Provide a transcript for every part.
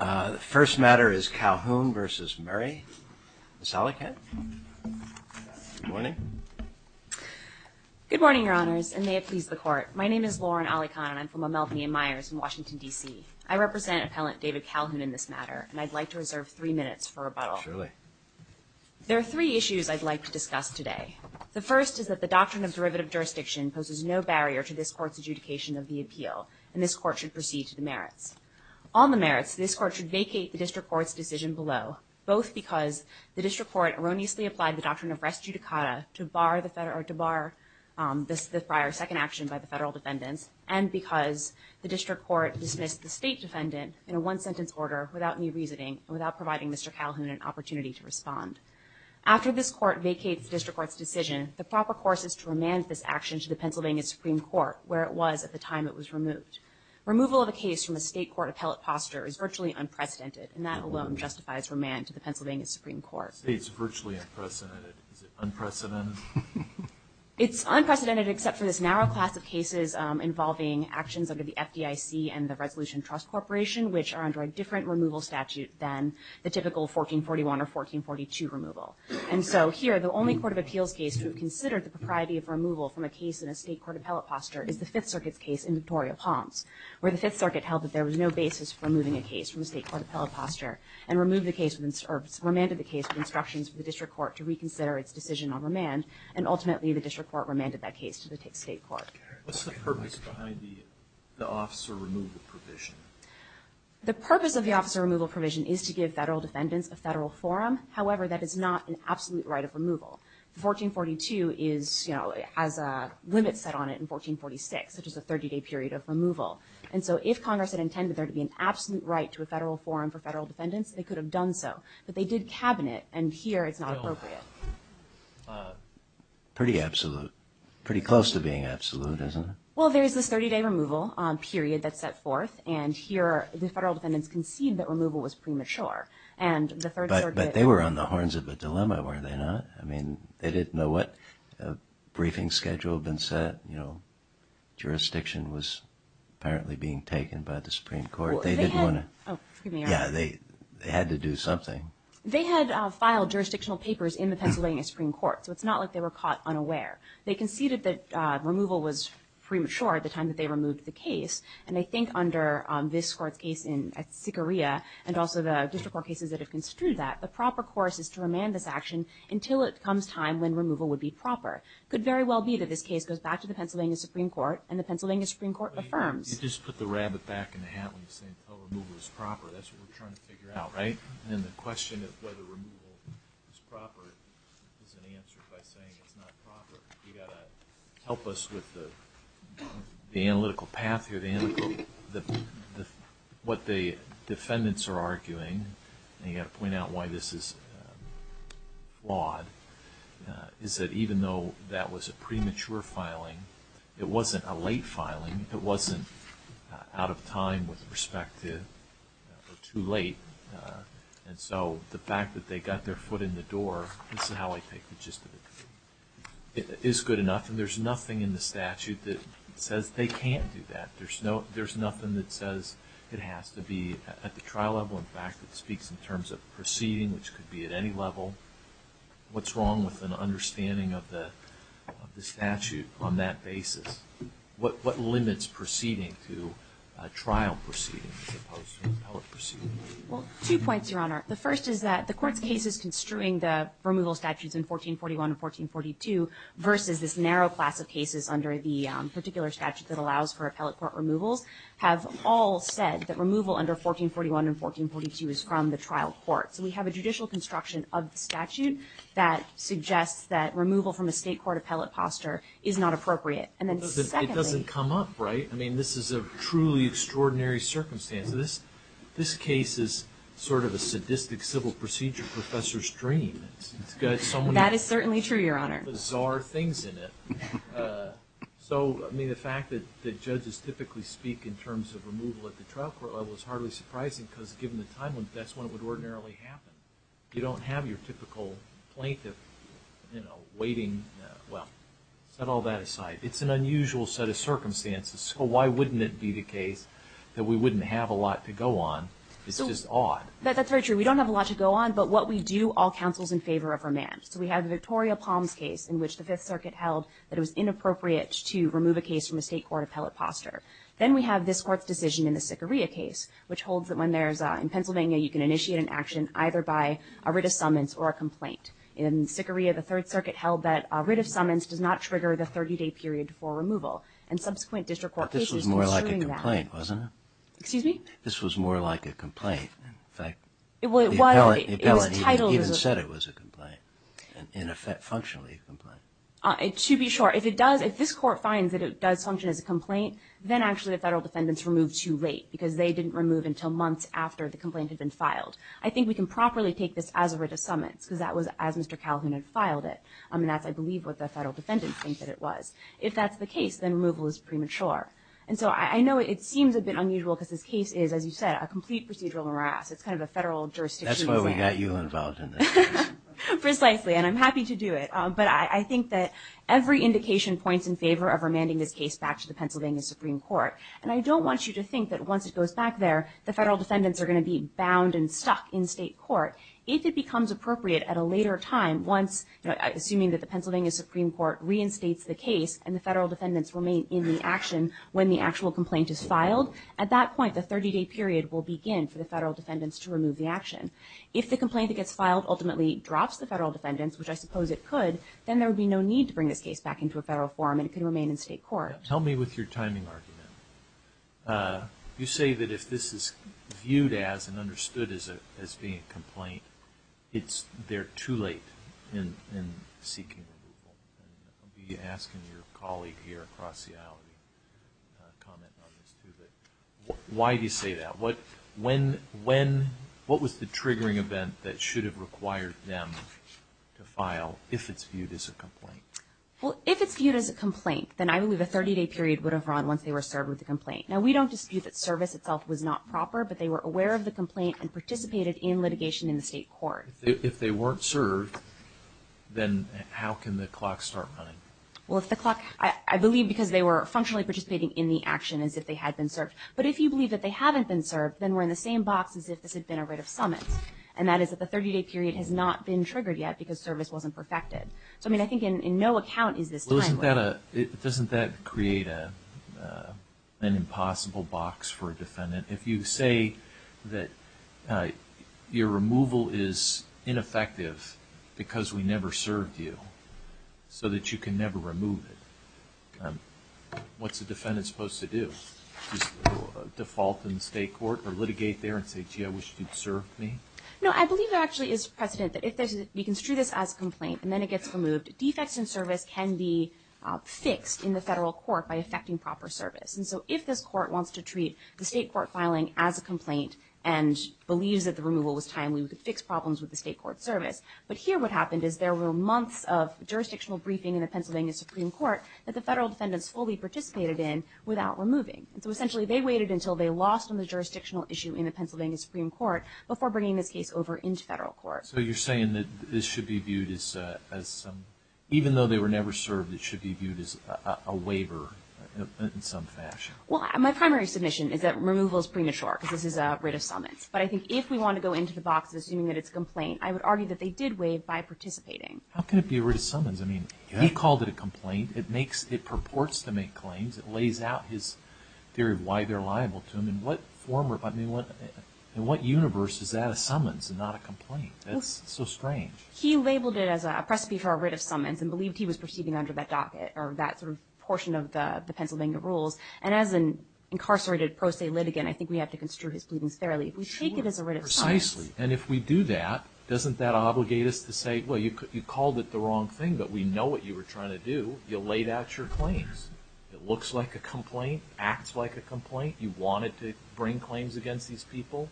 The first matter is Calhoun v. Murray. Ms. Alikhan. Good morning. Good morning, Your Honors, and may it please the Court. My name is Lauren Alikhan, and I'm from Amalfi and Myers in Washington, D.C. I represent Appellant David Calhoun in this matter, and I'd like to reserve three minutes for rebuttal. Surely. There are three issues I'd like to discuss today. The first is that the doctrine of derivative jurisdiction poses no barrier to this Court's On the merits, this Court should vacate the district court's decision below, both because the district court erroneously applied the doctrine of res judicata to bar the prior second action by the federal defendants, and because the district court dismissed the state defendant in a one-sentence order without any reasoning and without providing Mr. Calhoun an opportunity to respond. After this Court vacates the district court's decision, the proper course is to remand this action to the Pennsylvania Supreme Court, where it was at the time it was removed. Removal of a case from a state court appellate posture is virtually unprecedented, and that alone justifies remand to the Pennsylvania Supreme Court. It's virtually unprecedented. Is it unprecedented? It's unprecedented except for this narrow class of cases involving actions under the FDIC and the Resolution Trust Corporation, which are under a different removal statute than the typical 1441 or 1442 removal. And so here, the only Court of Appeals case to have considered the propriety of removal from a case in a state court appellate posture is the Fifth Circuit's case in Victoria Palms, where the Fifth Circuit held that there was no basis for removing a case from a state court appellate posture and remanded the case with instructions for the district court to reconsider its decision on remand, and ultimately the district court remanded that case to the state court. What's the purpose behind the officer removal provision? The purpose of the officer removal provision is to give federal defendants a federal forum. However, that is not an absolute right of removal. The 1442 has a limit set on it in 1446, which is a 30-day period of removal. And so if Congress had intended there to be an absolute right to a federal forum for federal defendants, they could have done so. But they did cabinet, and here it's not appropriate. Pretty absolute. Pretty close to being absolute, isn't it? Well, there is this 30-day removal period that's set forth, and here the federal defendants concede that removal was premature. And the Third Circuit— But they were on the horns of a dilemma, were they not? I mean, they didn't know what briefing schedule had been set. Jurisdiction was apparently being taken by the Supreme Court. They didn't want to— Well, they had— Oh, excuse me. Yeah, they had to do something. They had filed jurisdictional papers in the Pennsylvania Supreme Court, so it's not like they were caught unaware. They conceded that removal was premature at the time that they removed the case. And I think under this Court's case in Sicaria, and also the district court cases that have it comes time when removal would be proper. Could very well be that this case goes back to the Pennsylvania Supreme Court, and the Pennsylvania Supreme Court affirms— You just put the rabbit back in the hat when you say, oh, removal is proper. That's what we're trying to figure out, right? And then the question of whether removal is proper is an answer by saying it's not proper. You've got to help us with the analytical path here, the analytical—what the defendants are arguing, and you've got to point out why this is flawed, is that even though that was a premature filing, it wasn't a late filing. It wasn't out of time with respect to—or too late. And so the fact that they got their foot in the door, this is how I take the gist of it, is good enough. And there's nothing in the statute that says they can't do that. There's nothing that says it has to be—at the trial level, in fact, it speaks in terms of proceeding, which could be at any level. What's wrong with an understanding of the statute on that basis? What limits proceeding to trial proceeding as opposed to appellate proceeding? Well, two points, Your Honor. The first is that the Court's case is construing the removal statutes in 1441 and 1442 versus this narrow class of cases under the particular statute that allows for appellate court removals have all said that removal under 1441 and 1442 is from the trial court. So we have a judicial construction of the statute that suggests that removal from a state court appellate posture is not appropriate. And then secondly— But it doesn't come up, right? I mean, this is a truly extraordinary circumstance. This case is sort of a sadistic civil procedure professor's dream. It's got so many— That is certainly true, Your Honor. —bizarre things in it. So I mean, the fact that the judges typically speak in terms of removal at the trial court level is hardly surprising, because given the time limit, that's when it would ordinarily happen. You don't have your typical plaintiff, you know, waiting—well, set all that aside. It's an unusual set of circumstances, so why wouldn't it be the case that we wouldn't have a lot to go on? It's just odd. That's very true. We don't have a lot to go on, but what we do all counsels in favor of remand. So we have the Victoria Palms case in which the Fifth Circuit held that it was inappropriate to remove a case from the state court appellate posture. Then we have this Court's decision in the Sicaria case, which holds that when there's a—in Pennsylvania, you can initiate an action either by a writ of summons or a complaint. In Sicaria, the Third Circuit held that a writ of summons does not trigger the 30-day period before removal. And subsequent district court cases— But this was more like a complaint, wasn't it? Excuse me? This was more like a complaint. In fact, the appellate even said it was a complaint. In effect, functionally, a complaint. To be sure, if it does—if this Court finds that it does function as a complaint, then actually the federal defendants removed too late because they didn't remove until months after the complaint had been filed. I think we can properly take this as a writ of summons because that was as Mr. Calhoun had filed it. I mean, that's, I believe, what the federal defendants think that it was. If that's the case, then removal is premature. And so I know it seems a bit unusual because this case is, as you said, a complete procedural morass. It's kind of a federal jurisdiction. That's why we got you involved in this. Precisely. And I'm happy to do it. But I think that every indication points in favor of remanding this case back to the Pennsylvania Supreme Court. And I don't want you to think that once it goes back there, the federal defendants are going to be bound and stuck in state court. If it becomes appropriate at a later time, once—assuming that the Pennsylvania Supreme Court reinstates the case and the federal defendants remain in the action when the actual complaint is filed, at that point, the 30-day period will begin for the federal defendants to remove the action. If the complaint that gets filed ultimately drops the federal defendants, which I suppose it could, then there would be no need to bring this case back into a federal forum and it could remain in state court. Now, tell me with your timing argument. You say that if this is viewed as and understood as being a complaint, it's—they're too late in seeking removal. And I'll be asking your colleague here across the aisle to comment on this too, but why do you say that? What—when—when—what was the triggering event that should have required them to file if it's viewed as a complaint? Well, if it's viewed as a complaint, then I believe a 30-day period would have run once they were served with the complaint. Now, we don't dispute that service itself was not proper, but they were aware of the complaint and participated in litigation in the state court. If they weren't served, then how can the clock start running? Well, if the clock—I believe because they were functionally participating in the action as if they had been served. But if you believe that they haven't been served, then we're in the same box as if this had been a writ of summons. And that is that the 30-day period has not been triggered yet because service wasn't perfected. So, I mean, I think in—in no account is this timely. Well, isn't that a—doesn't that create a—an impossible box for a defendant? If you say that your removal is ineffective because we never served you so that you can never remove it, what's a defendant supposed to do? Just default in the state court or litigate there and say, gee, I wish you'd served me? No, I believe there actually is precedent that if there's—we construe this as a complaint and then it gets removed, defects in service can be fixed in the federal court by effecting proper service. And so if this court wants to treat the state court filing as a complaint and believes that the removal was timely, we could fix problems with the state court service. But here what happened is there were months of jurisdictional briefing in the Pennsylvania Supreme Court that the federal defendants fully participated in without removing. And so essentially they waited until they lost on the jurisdictional issue in the Pennsylvania Supreme Court before bringing this case over into federal court. So you're saying that this should be viewed as—as some—even though they were never served, it should be viewed as a waiver in some fashion? Well, my primary submission is that removal is premature because this is a writ of summons. But I think if we want to go into the box assuming that it's a complaint, I would argue that they did waive by participating. How can it be a writ of summons? I mean, he called it a complaint. It makes—it purports to make claims. It lays out his theory of why they're liable to him. And what form of—I mean, what—in what universe is that a summons and not a complaint? That's so strange. He labeled it as a precipe for a writ of summons and believed he was proceeding under that docket or that sort of portion of the Pennsylvania rules. And as an incarcerated pro se litigant, I think we have to construe his pleadings fairly. If we take it as a writ of summons— Precisely. And if we do that, doesn't that obligate us to say, well, you called it the wrong thing, but we know what you were trying to do. You laid out your claims. It looks like a complaint, acts like a complaint. You wanted to bring claims against these people.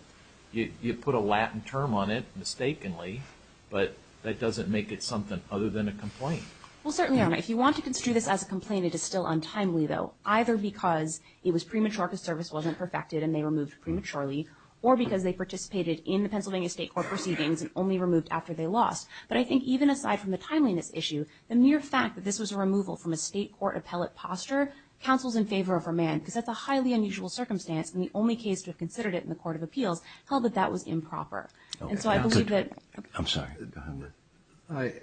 You put a Latin term on it, mistakenly, but that doesn't make it something other than a complaint. Well, certainly not. If you want to construe this as a complaint, it is still untimely, though, either because it was premature because service wasn't perfected and they were moved prematurely, or because they participated in the Pennsylvania State Court proceedings and only removed after they lost. But I think even aside from the timeliness issue, the mere fact that this was a removal from a state court appellate posture counsels in favor of a man, because that's a highly unusual circumstance, and the only case to have considered it in the Court of Appeals held that that was improper. And so I believe that— I'm sorry. Go ahead.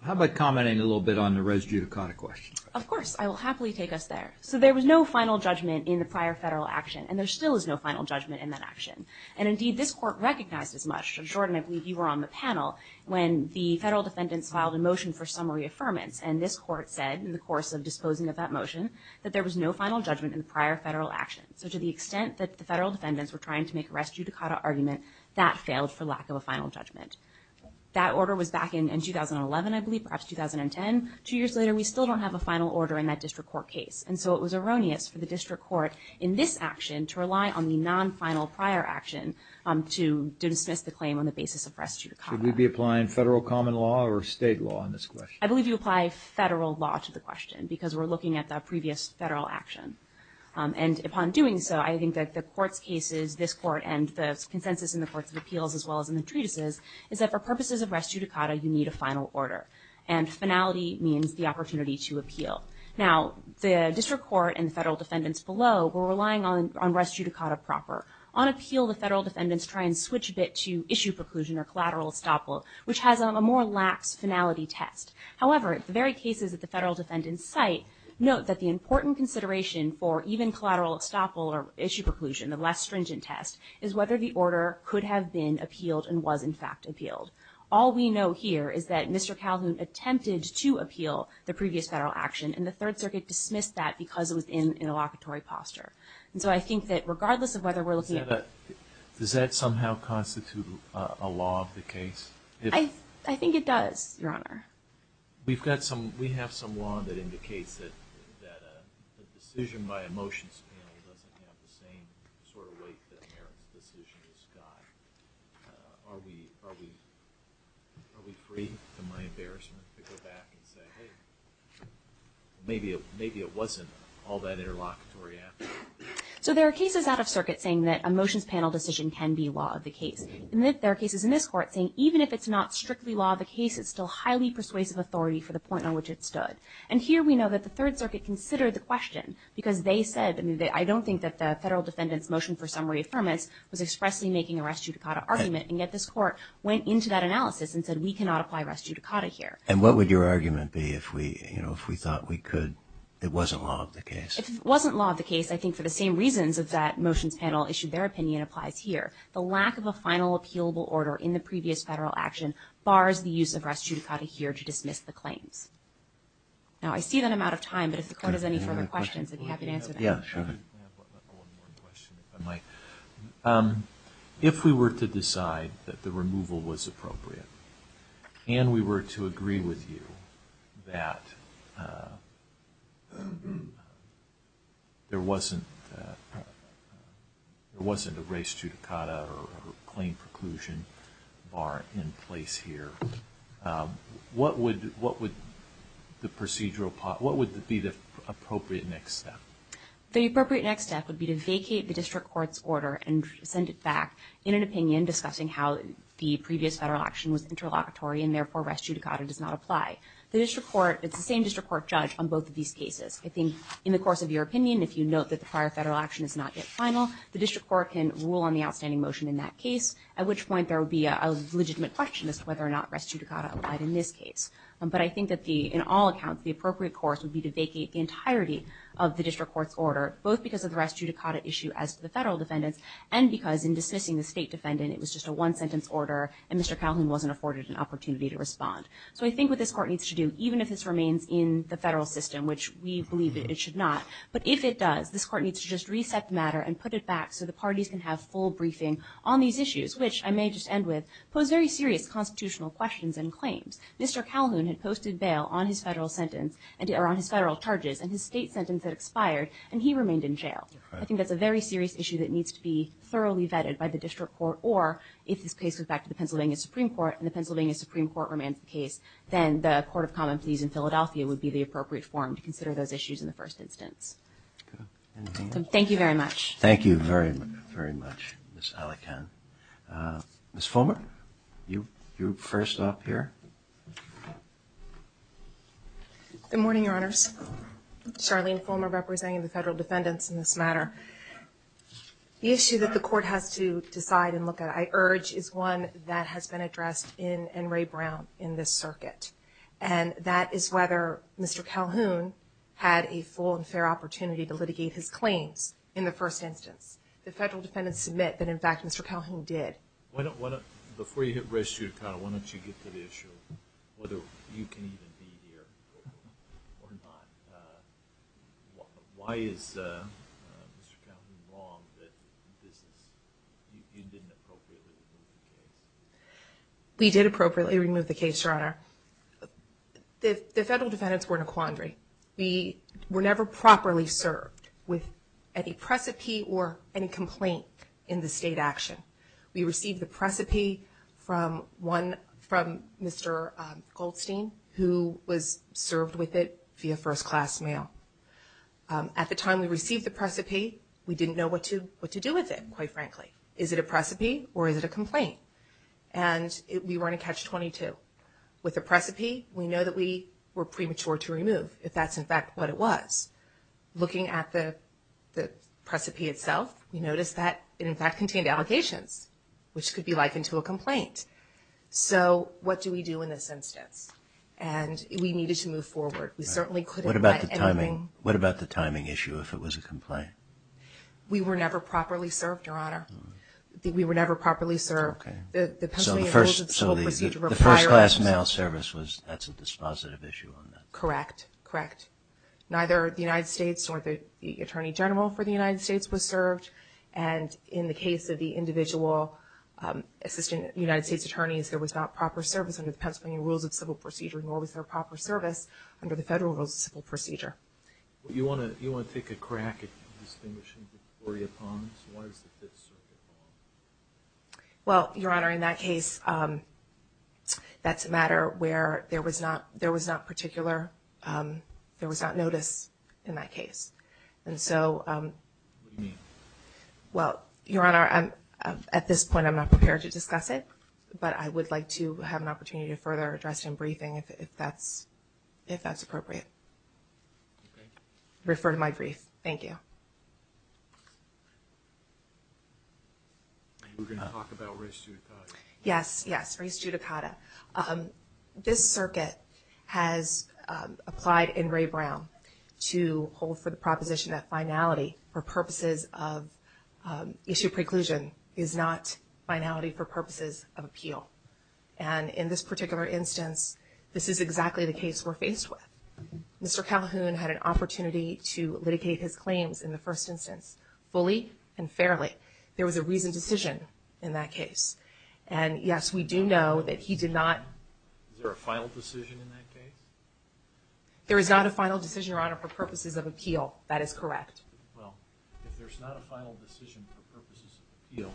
How about commenting a little bit on the res judicata question? Of course. I will happily take us there. So there was no final judgment in the prior federal action, and there still is no final judgment in that action. And indeed, this court recognized as much—Jordan, I believe you were on the panel when the federal defendants filed a motion for summary affirmance, and this court said in the course of disposing of that motion that there was no final judgment in the prior federal action. So to the extent that the federal defendants were trying to make a res judicata argument, that failed for lack of a final judgment. That order was back in 2011, I believe, perhaps 2010. Two years later, we still don't have a final order in that district court case. And so it was erroneous for the district court in this action to rely on the non-final prior action to dismiss the claim on the basis of res judicata. Should we be applying federal common law or state law on this question? I believe you apply federal law to the question, because we're looking at the previous federal action. And upon doing so, I think that the court's cases, this court and the consensus in the courts of appeals as well as in the treatises, is that for purposes of res judicata, you need a final order. And finality means the opportunity to appeal. Now the district court and the federal defendants below were relying on res judicata proper. On appeal, the federal defendants try and switch a bit to issue preclusion or collateral estoppel, which has a more lax finality test. However, at the very cases that the federal defendants cite, note that the important consideration for even collateral estoppel or issue preclusion, the less stringent test, is whether the order could have been appealed and was in fact appealed. All we know here is that Mr. Calhoun attempted to appeal the previous federal action, and the Third Circuit dismissed that because it was in an allocatory posture. And so I think that regardless of whether we're looking at the... Does that somehow constitute a law of the case? I think it does, Your Honor. We've got some, we have some law that indicates that a decision by a motions panel doesn't have the same sort of weight that Merrick's decision has got. Are we free, to my embarrassment, to go back and say, hey, maybe it wasn't all that interlocutory after all? So there are cases out of circuit saying that a motions panel decision can be law of the case. And there are cases in this Court saying even if it's not strictly law of the case, it's still highly persuasive authority for the point on which it stood. And here we know that the Third Circuit considered the question because they said, I don't think that the federal defendants motion for summary affirmance was expressly making a res judicata argument. And yet this Court went into that analysis and said, we cannot apply res judicata here. And what would your argument be if we, you know, if we thought we could, it wasn't law of the case? If it wasn't law of the case, I think for the same reasons that that motions panel issued their opinion applies here. The lack of a final appealable order in the previous federal action bars the use of res judicata here to dismiss the claims. Now, I see that I'm out of time, but if the Court has any further questions, I'd be happy to answer them. Yeah, sure. I have one more question, if I might. If we were to decide that the removal was appropriate, and we were to agree with you that there wasn't a res judicata or claim preclusion bar in place here, what would the procedural part, what would be the appropriate next step? The appropriate next step would be to vacate the district court's order and send it back in an opinion discussing how the previous federal action was interlocutory, and therefore res judicata does not apply. The district court, it's the same district court judge on both of these cases. I think in the course of your opinion, if you note that the prior federal action is not yet final, the district court can rule on the outstanding motion in that case, at which point there would be a legitimate question as to whether or not res judicata applied in this case. But I think that the, in all accounts, the appropriate course would be to vacate the district court's order, both because of the res judicata issue as to the federal defendants, and because in dismissing the state defendant, it was just a one-sentence order, and Mr. Calhoun wasn't afforded an opportunity to respond. So I think what this court needs to do, even if this remains in the federal system, which we believe it should not, but if it does, this court needs to just reset the matter and put it back so the parties can have full briefing on these issues, which I may just end with, pose very serious constitutional questions and claims. Mr. Calhoun had posted bail on his federal sentence, or on his federal charges, and his state sentence had expired, and he remained in jail. I think that's a very serious issue that needs to be thoroughly vetted by the district court, or if this case goes back to the Pennsylvania Supreme Court and the Pennsylvania Supreme Court remands the case, then the Court of Common Pleas in Philadelphia would be the appropriate forum to consider those issues in the first instance. Thank you very much. Thank you very, very much, Ms. Alikan. Ms. Fulmer, you first up here. Good morning, Your Honors. Charlene Fulmer, representing the federal defendants in this matter. The issue that the court has to decide and look at, I urge, is one that has been addressed in N. Ray Brown in this circuit, and that is whether Mr. Calhoun had a full and fair opportunity to litigate his claims in the first instance. The federal defendants submit that, in fact, Mr. Calhoun did. Before you hit rest, Your Honor, why don't you get to the issue of whether you can even be here or not. Why is Mr. Calhoun wrong that you didn't appropriately remove the case? We did appropriately remove the case, Your Honor. The federal defendants were in a quandary. We were never properly served with any precipice or any complaint in the state action. We received the precipice from Mr. Goldstein, who was served with it via first-class mail. At the time we received the precipice, we didn't know what to do with it, quite frankly. Is it a precipice or is it a complaint? And we run a catch-22. With the precipice, we know that we were premature to remove, if that's, in fact, what it was. Looking at the precipice itself, we noticed that it, in fact, contained allegations, which could be likened to a complaint. So what do we do in this instance? And we needed to move forward. We certainly couldn't let anything... What about the timing issue, if it was a complaint? We were never properly served, Your Honor. We were never properly served. Okay. So the first-class mail service, that's a dispositive issue on that. Correct. Correct. Neither the United States nor the Attorney General for the United States was served. And in the case of the individual Assistant United States Attorneys, there was not proper service under the Pennsylvania Rules of Civil Procedure, nor was there proper service under the federal Rules of Civil Procedure. You want to take a crack at the distinguishing of Victoria Ponds? Why is it Fifth Circuit Ponds? Well, Your Honor, in that case, that's a matter where there was not particular... There was not notice in that case. And so... What do you mean? Well, Your Honor, at this point, I'm not prepared to discuss it, but I would like to have an opportunity to further address it in briefing, if that's appropriate. Okay. Refer to my brief. Thank you. We're going to talk about race judicata. Yes. Yes. Race judicata. Race judicata. This circuit has applied in Ray Brown to hold for the proposition that finality for purposes of issue preclusion is not finality for purposes of appeal. And in this particular instance, this is exactly the case we're faced with. Mr. Calhoun had an opportunity to litigate his claims in the first instance fully and fairly. There was a reasoned decision in that case. And yes, we do know that he did not... Is there a final decision in that case? There is not a final decision, Your Honor, for purposes of appeal. That is correct. Well, if there's not a final decision for purposes of appeal,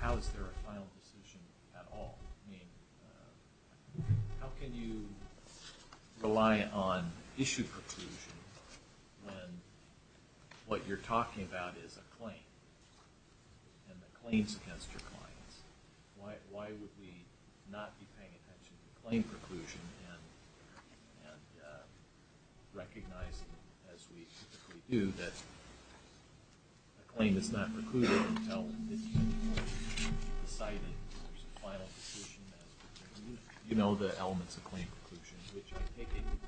how is there a final decision at all? I mean, how can you rely on issue preclusion when what you're talking about is a claim and the claims against your clients? Why would we not be paying attention to claim preclusion and recognize, as we typically do, that a claim is not precluded until the decision is made, the final decision is made? You know the elements of claim preclusion, which I take it you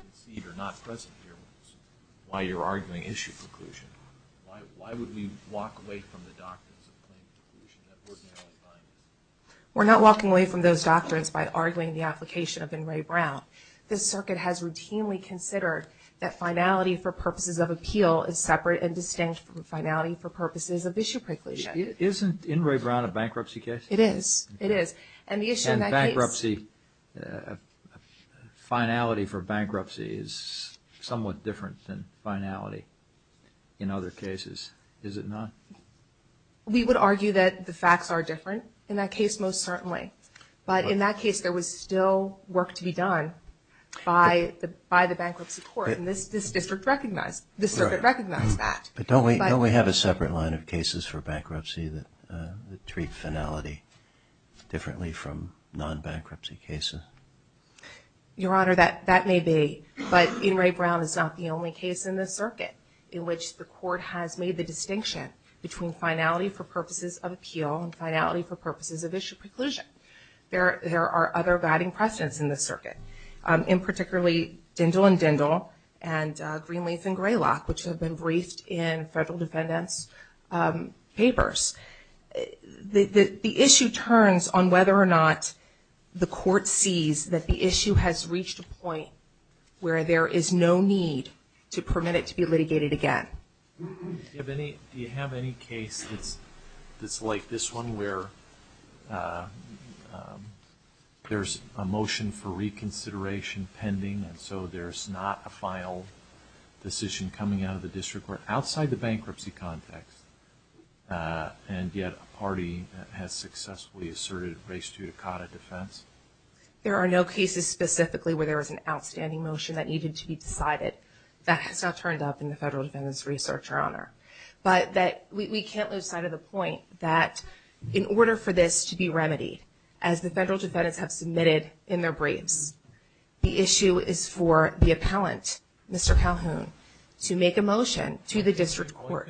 concede are not present here while you're arguing issue preclusion. Why would we walk away from the doctrines of claim preclusion? We're not walking away from those doctrines by arguing the application of Inouye Brown. This circuit has routinely considered that finality for purposes of appeal is separate and distinct from finality for purposes of issue preclusion. Isn't Inouye Brown a bankruptcy case? It is. It is. And the issue in that case... finality for bankruptcy is somewhat different than finality in other cases, is it not? We would argue that the facts are different in that case most certainly, but in that case there was still work to be done by the bankruptcy court and this district recognized that. But don't we have a separate line of cases for bankruptcy that treat finality differently from non-bankruptcy cases? Your Honor, that may be, but Inouye Brown is not the only case in this circuit in which the court has made the distinction between finality for purposes of appeal and finality for purposes of issue preclusion. There are other guiding precedents in this circuit, in particularly Dindle and Dindle and Greenleaf and Greylock, which have been briefed in federal defendants' papers. The issue turns on whether or not the court sees that the issue has reached a point where there is no need to permit it to be litigated again. Do you have any case that's like this one where there's a motion for reconsideration pending and so there's not a final decision coming out of the district where, outside the bankruptcy context, and yet a party has successfully asserted res judicata defense? There are no cases specifically where there was an outstanding motion that needed to be decided. That has not turned up in the federal defendants' research, Your Honor. But we can't lose sight of the point that in order for this to be remedied, as the federal defendants have submitted in their briefs, the issue is for the appellant, Mr. Calhoun, to make a motion to the district court.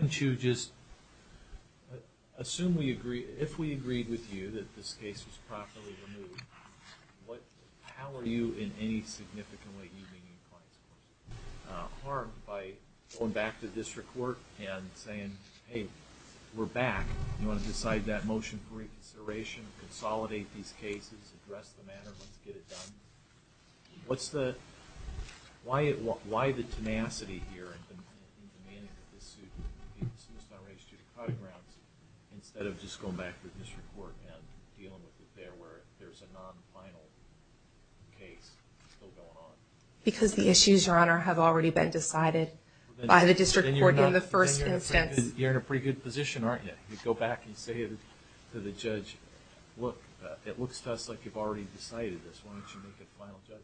If we agreed with you that this case was properly removed, how are you, in any significant way, are you being harmed by going back to district court and saying, hey, we're back, you want to decide that motion for reconsideration, consolidate these cases, address the matter, let's get it done? Why the tenacity here in demanding that this suit be dismissed on res judicata grounds instead of just going back to the district court and dealing with it there where there's a non-final case still going on? Because the issues, Your Honor, have already been decided by the district court in the first instance. Then you're in a pretty good position, aren't you? You go back and say to the judge, look, it looks to us like you've already decided this, why don't you make a final judgment?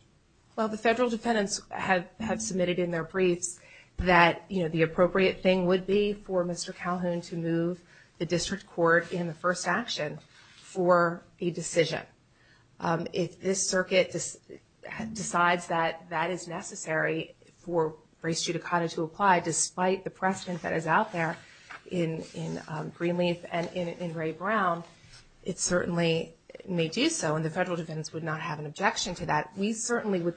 Well, the federal defendants have submitted in their briefs that the appropriate thing would be for Mr. Calhoun to move the district court in the first action for a decision. If this circuit decides that that is necessary for res judicata to apply, despite the precedent that is out there in Greenleaf and in Ray Brown, it certainly may do so, and the federal defendants would not have an objection to that. We certainly would,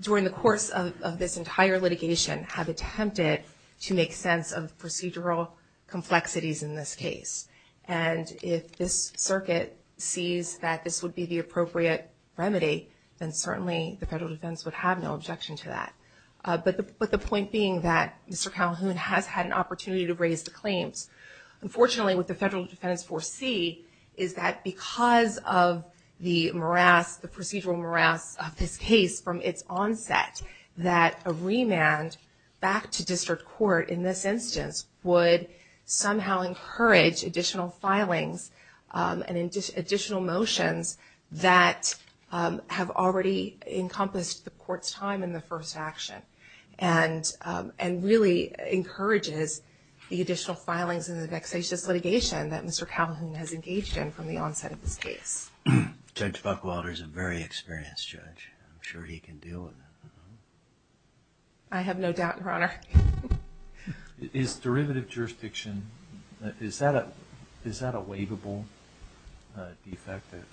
during the course of this entire litigation, have attempted to make sense of procedural complexities in this case. And if this circuit sees that this would be the appropriate remedy, then certainly the federal defendants would have no objection to that. But the point being that Mr. Calhoun has had an opportunity to raise the claims. Unfortunately, what the federal defendants foresee is that because of the morass, the procedural morass of this case from its onset, that a remand back to district court in this instance would somehow encourage additional filings and additional motions that have already encompassed the court's time in the first action, and really encourages the additional filings and the vexatious litigation that Mr. Calhoun has engaged in from the onset of this case. Judge Buckwilder is a very experienced judge. I'm sure he can deal with it. I have no doubt, Your Honor. Is derivative jurisdiction, is that a waivable defective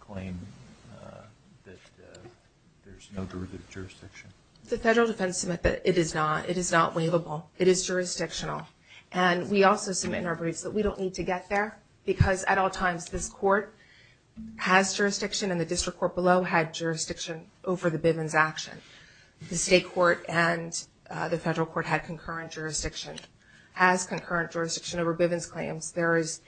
claim that there's no derivative jurisdiction? The federal defense submit that it is not. It is not waivable. It is jurisdictional. And we also submit in our briefs that we don't need to get there because at all times this court has jurisdiction and the district court below had jurisdiction over the Bivens action. The state court and the federal court had concurrent jurisdiction. Has concurrent jurisdiction over Bivens claims. There is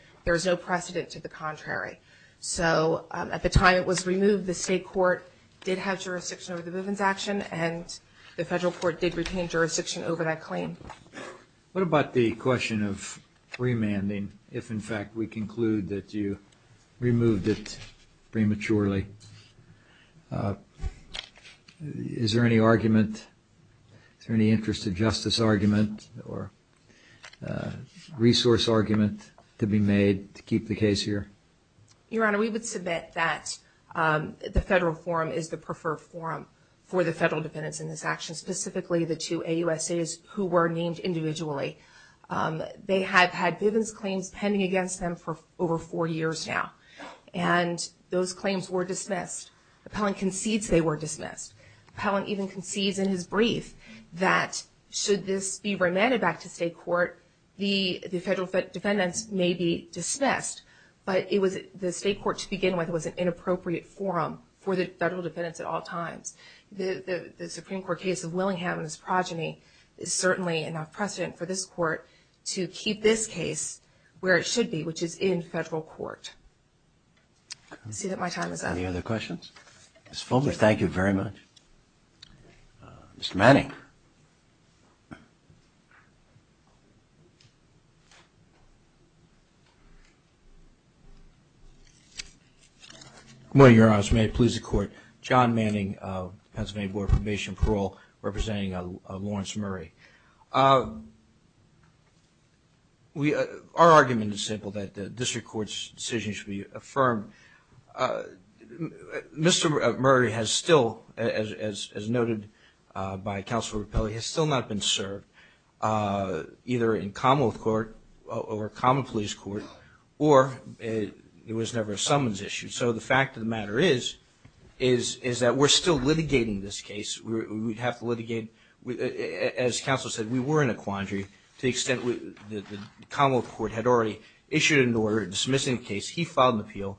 no precedent to the contrary. So at the time it was removed, the state court did have jurisdiction over the Bivens action and the federal court did retain jurisdiction over that claim. What about the question of remanding if in fact we conclude that you removed it prematurely? Is there any argument, is there any interest of justice argument or resource argument to be made to keep the case here? Your Honor, we would submit that the federal forum is the preferred forum for the federal defendants in this action. Specifically the two AUSAs who were named individually. They have had Bivens claims pending against them for over four years now. And those claims were dismissed. Appellant concedes they were dismissed. Appellant even concedes in his brief that should this be remanded back to state court, the federal defendants may be dismissed. But the state court to begin with was an inappropriate forum for the federal defendants at all times. The Supreme Court case of Willingham and his progeny is certainly enough precedent for this court to keep this case where it should be, which is in federal court. I see that my time is up. Any other questions? Ms. Fulmer, thank you very much. Mr. Manning. Good morning, Your Honor. As may it please the court. John Manning, Pennsylvania Board of Probation and Parole, representing Lawrence Murray. Our argument is simple, that the district court's decision should be affirmed. Mr. Murray has still, as noted by Counselor Rapelli, has still not been served either in Commonwealth court or common police court, or it was never a summons issue. So the fact of the matter is, is that we're still litigating this case. We have to litigate. As Counselor said, we were in a quandary to the extent that the Commonwealth court had already issued an order dismissing the case. He filed an appeal.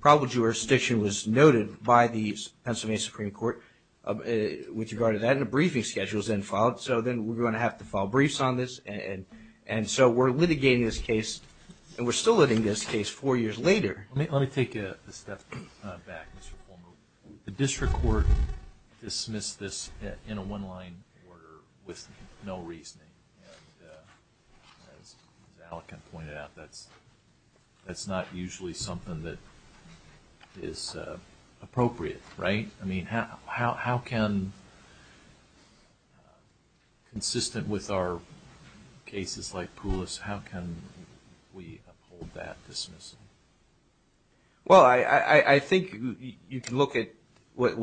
Probable jurisdiction was noted by the Pennsylvania Supreme Court with regard to that, and a briefing schedule was then filed. So then we're going to have to file briefs on this. And so we're litigating this case, and we're still litigating this case four years later. Let me take a step back, Mr. Fulmer. The district court dismissed this in a one-line order with no reasoning. And as Alec had pointed out, that's not usually something that is appropriate, right? I mean, how can, consistent with our cases like Poulos, how can we uphold that dismissal? Well, I think you can look at what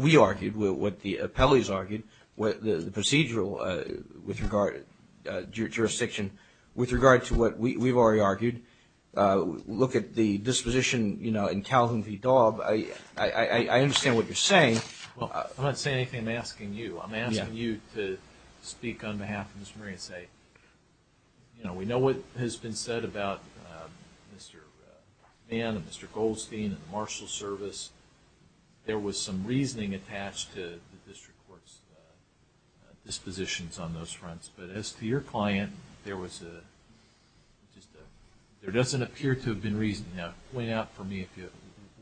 we argued, what the appellees argued, the procedural jurisdiction, with regard to what we've already argued. Look at the disposition in Calhoun v. Daub. I understand what you're saying. Well, I'm not saying anything. I'm asking you. I'm asking you to speak on behalf of Mr. Murray and say, you know, we know what has been said about Mr. Mann and Mr. Goldstein and the marshal service. There was some reasoning attached to the district court's dispositions on those fronts. But as to your client, there doesn't appear to have been reason. Now, point out for me if you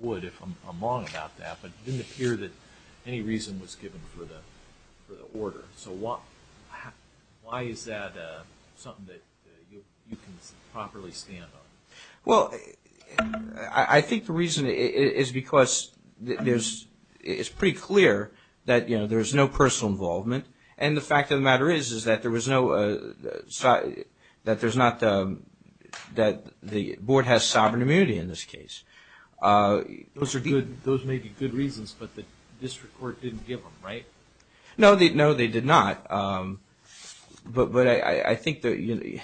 would, if I'm wrong about that. But it didn't appear that any reason was given for the order. So why is that something that you can properly stand on? Well, I think the reason is because it's pretty clear that, you know, there's no personal involvement. And the fact of the matter is that the board has sovereign immunity in this case. Those may be good reasons, but the district court didn't give them, right? No, they did not. But I think that,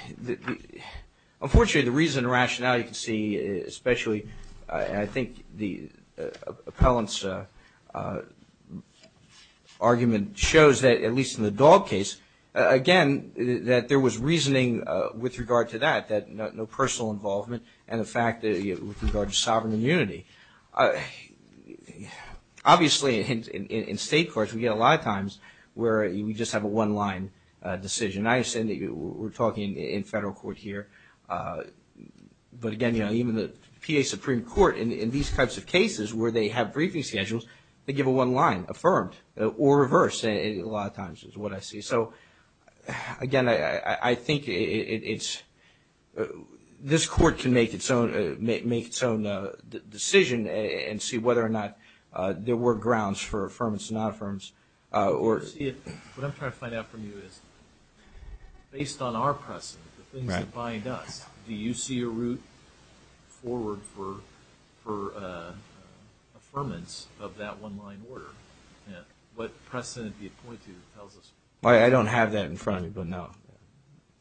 unfortunately, the reason and rationale you can see, especially I think the appellant's argument shows that, at least in the Dog case, again, that there was reasoning with regard to that, that no personal involvement and the fact that with regard to sovereign immunity. Obviously, in state courts, we get a lot of times where we just have a one-line decision. I understand that we're talking in federal court here. But again, even the PA Supreme Court, in these types of cases where they have briefing schedules, they give a one-line, affirmed or reversed a lot of times is what I see. So, again, I think it's, this court can make its own decision and see whether or not there were grounds for affirmance and non-affirms. What I'm trying to find out from you is, based on our precedent, the things that bind us, do you see a route forward for affirmance of that one-line order? What precedent do you point to that tells us? I don't have that in front of me, but no,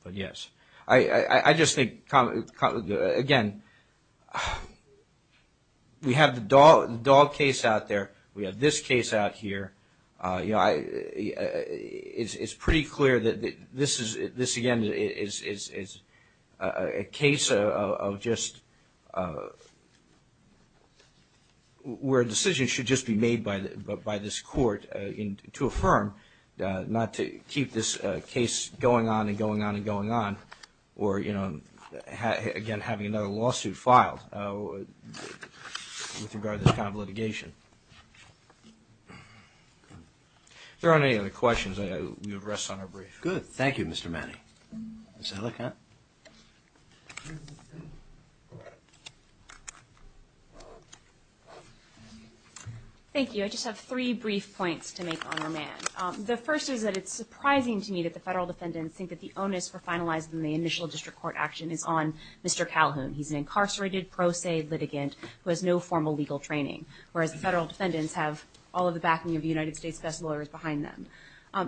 but yes. I just think, again, we have the Dog case out there. We have this case out here. It's pretty clear that this, again, is a case of just where a decision should just be made by this court to affirm, not to keep this case going on and going on and going on, or, again, having another lawsuit filed with regard to this kind of litigation. If there aren't any other questions, we will rest on our brief. Good. Thank you, Mr. Manning. Ms. Ellicott. Thank you. I just have three brief points to make on remand. The first is that it's surprising to me that the federal defendants think that the onus for finalizing the initial district court action is on Mr. Calhoun. He's an incarcerated pro se litigant who has no formal legal training, whereas the federal defendants have all of the backing of the United States' best lawyers behind them.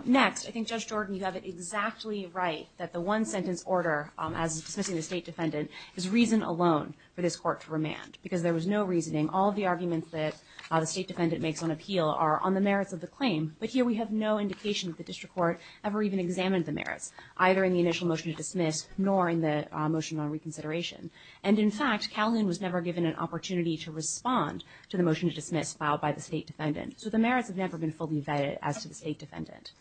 Next, I think Judge Jordan, you have it exactly right that the one-sentence order as dismissing the state defendant is reason alone for this court to remand, because there was no reasoning. All of the arguments that the state defendant makes on appeal are on the merits of the claim, but here we have no indication that the district court ever even examined the merits, either in the initial motion to dismiss nor in the motion on reconsideration. And in fact, Calhoun was never given an opportunity to respond to the motion to dismiss filed by the state defendant, so the merits have never been fully vetted as to the state defendant.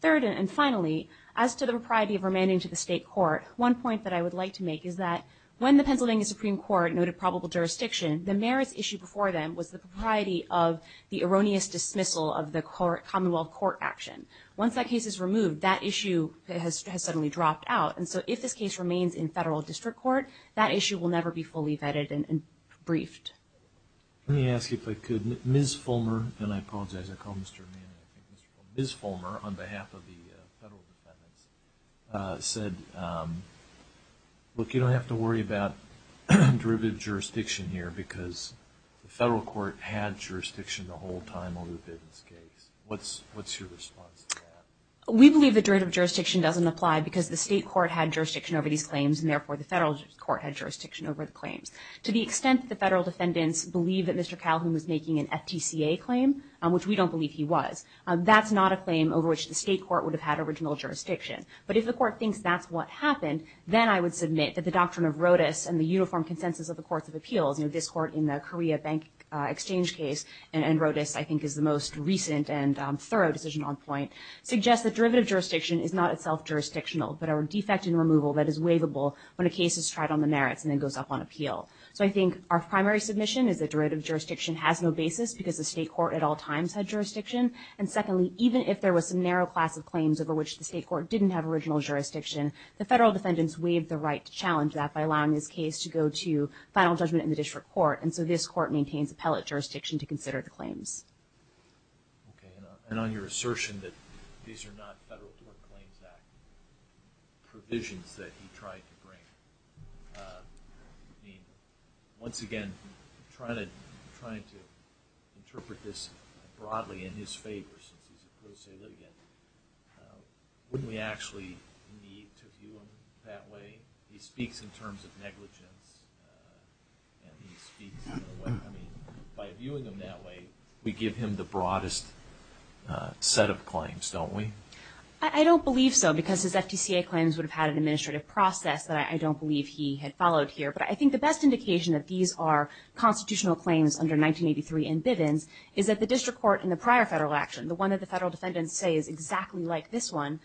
Third, and finally, as to the propriety of remanding to the state court, one point that I would like to make is that when the Pennsylvania Supreme Court noted probable jurisdiction, the merits issue before them was the propriety of the erroneous dismissal of the commonwealth court action. Once that case is removed, that issue has suddenly dropped out, and so if this case remains in federal district court, that issue will never be fully vetted and briefed. Let me ask you, if I could, Ms. Fulmer, and I apologize, I call Mr. Mann, I think Mr. Fulmer, Ms. Fulmer, on behalf of the federal defendants, said, look, you don't have to worry about derivative jurisdiction here, because the federal court had jurisdiction the whole time over the business case. What's your response to that? We believe the derivative jurisdiction doesn't apply, because the state court had jurisdiction over these claims, and therefore the federal court had jurisdiction over the claims. To the extent that the federal defendants believe that Mr. Calhoun was making an FTCA claim, which we don't believe he was, that's not a claim over which the state court would have had original jurisdiction. But if the court thinks that's what happened, then I would submit that the doctrine of RODIS and the uniform consensus of the courts of appeals, this court in the Korea bank exchange case, and RODIS I think is the most recent and thorough decision on point, suggests that derivative jurisdiction is not itself jurisdictional, but a defect in removal that is waivable when a case is tried on the merits and then goes up on appeal. So I think our primary submission is that derivative jurisdiction has no basis, because the state court at all times had jurisdiction, and secondly, even if there was a narrow class of claims over which the state court didn't have original jurisdiction, the federal defendants waived the right to challenge that by allowing this case to go to final judgment in the district court, and so this court maintains appellate jurisdiction to consider the claims. And on your assertion that these are not Federal Court Claims Act provisions that he tried to bring, once again, I'm trying to interpret this broadly in his favor, since he's a pro se litigant, wouldn't we actually need to view him that way? He speaks in terms of negligence, and he speaks I mean, by viewing him that way, we give him the broadest set of claims, don't we? I don't believe so, because his FTCA claims would have had an administrative process that I don't believe he had followed here, but I think the best indication that these are constitutional claims under 1983 and Bivens is that the district court in the prior federal action, the one that the federal defendants say is exactly like this one,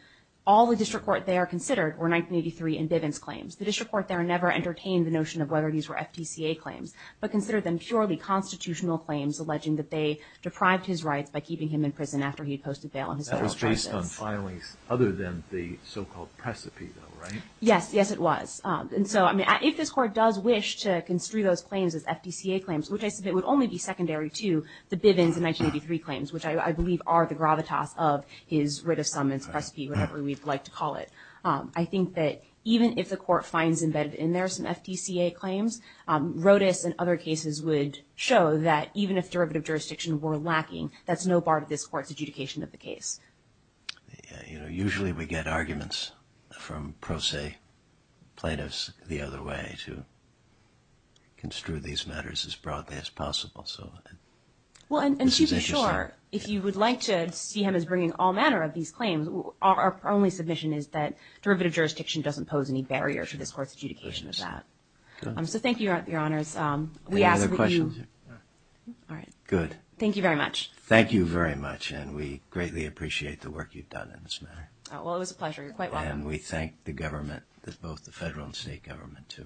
all the district court there considered were 1983 and Bivens claims. The district court there never entertained the notion of whether these were FTCA claims, but considered them purely constitutional claims, alleging that they deprived his rights by keeping him in prison after he posted bail on his federal charges. That was based on filings other than the so-called precipito, right? Yes, yes it was. If this court does wish to construe those claims as FTCA claims, which I submit would only be secondary to the Bivens 1983 claims, which I believe are the gravitas of his writ of summons, precipito, whatever we'd like to call it, I think that even if the court finds embedded in there some FTCA claims, Rodas and other cases would show that even if derivative jurisdiction were lacking, that's no bar to this court's adjudication of the case. Usually we get arguments from pro se plaintiffs the other way to construe these matters as broadly as possible. And to be sure, if you would like to see him as bringing all the evidence to the court, my only submission is that derivative jurisdiction doesn't pose any barrier to this court's adjudication of that. So thank you, Your Honors. Any other questions? Good. Thank you very much. Thank you very much, and we greatly appreciate the work you've done in this matter. Well, it was a pleasure. You're quite welcome. And we thank the government, both the federal and state government too.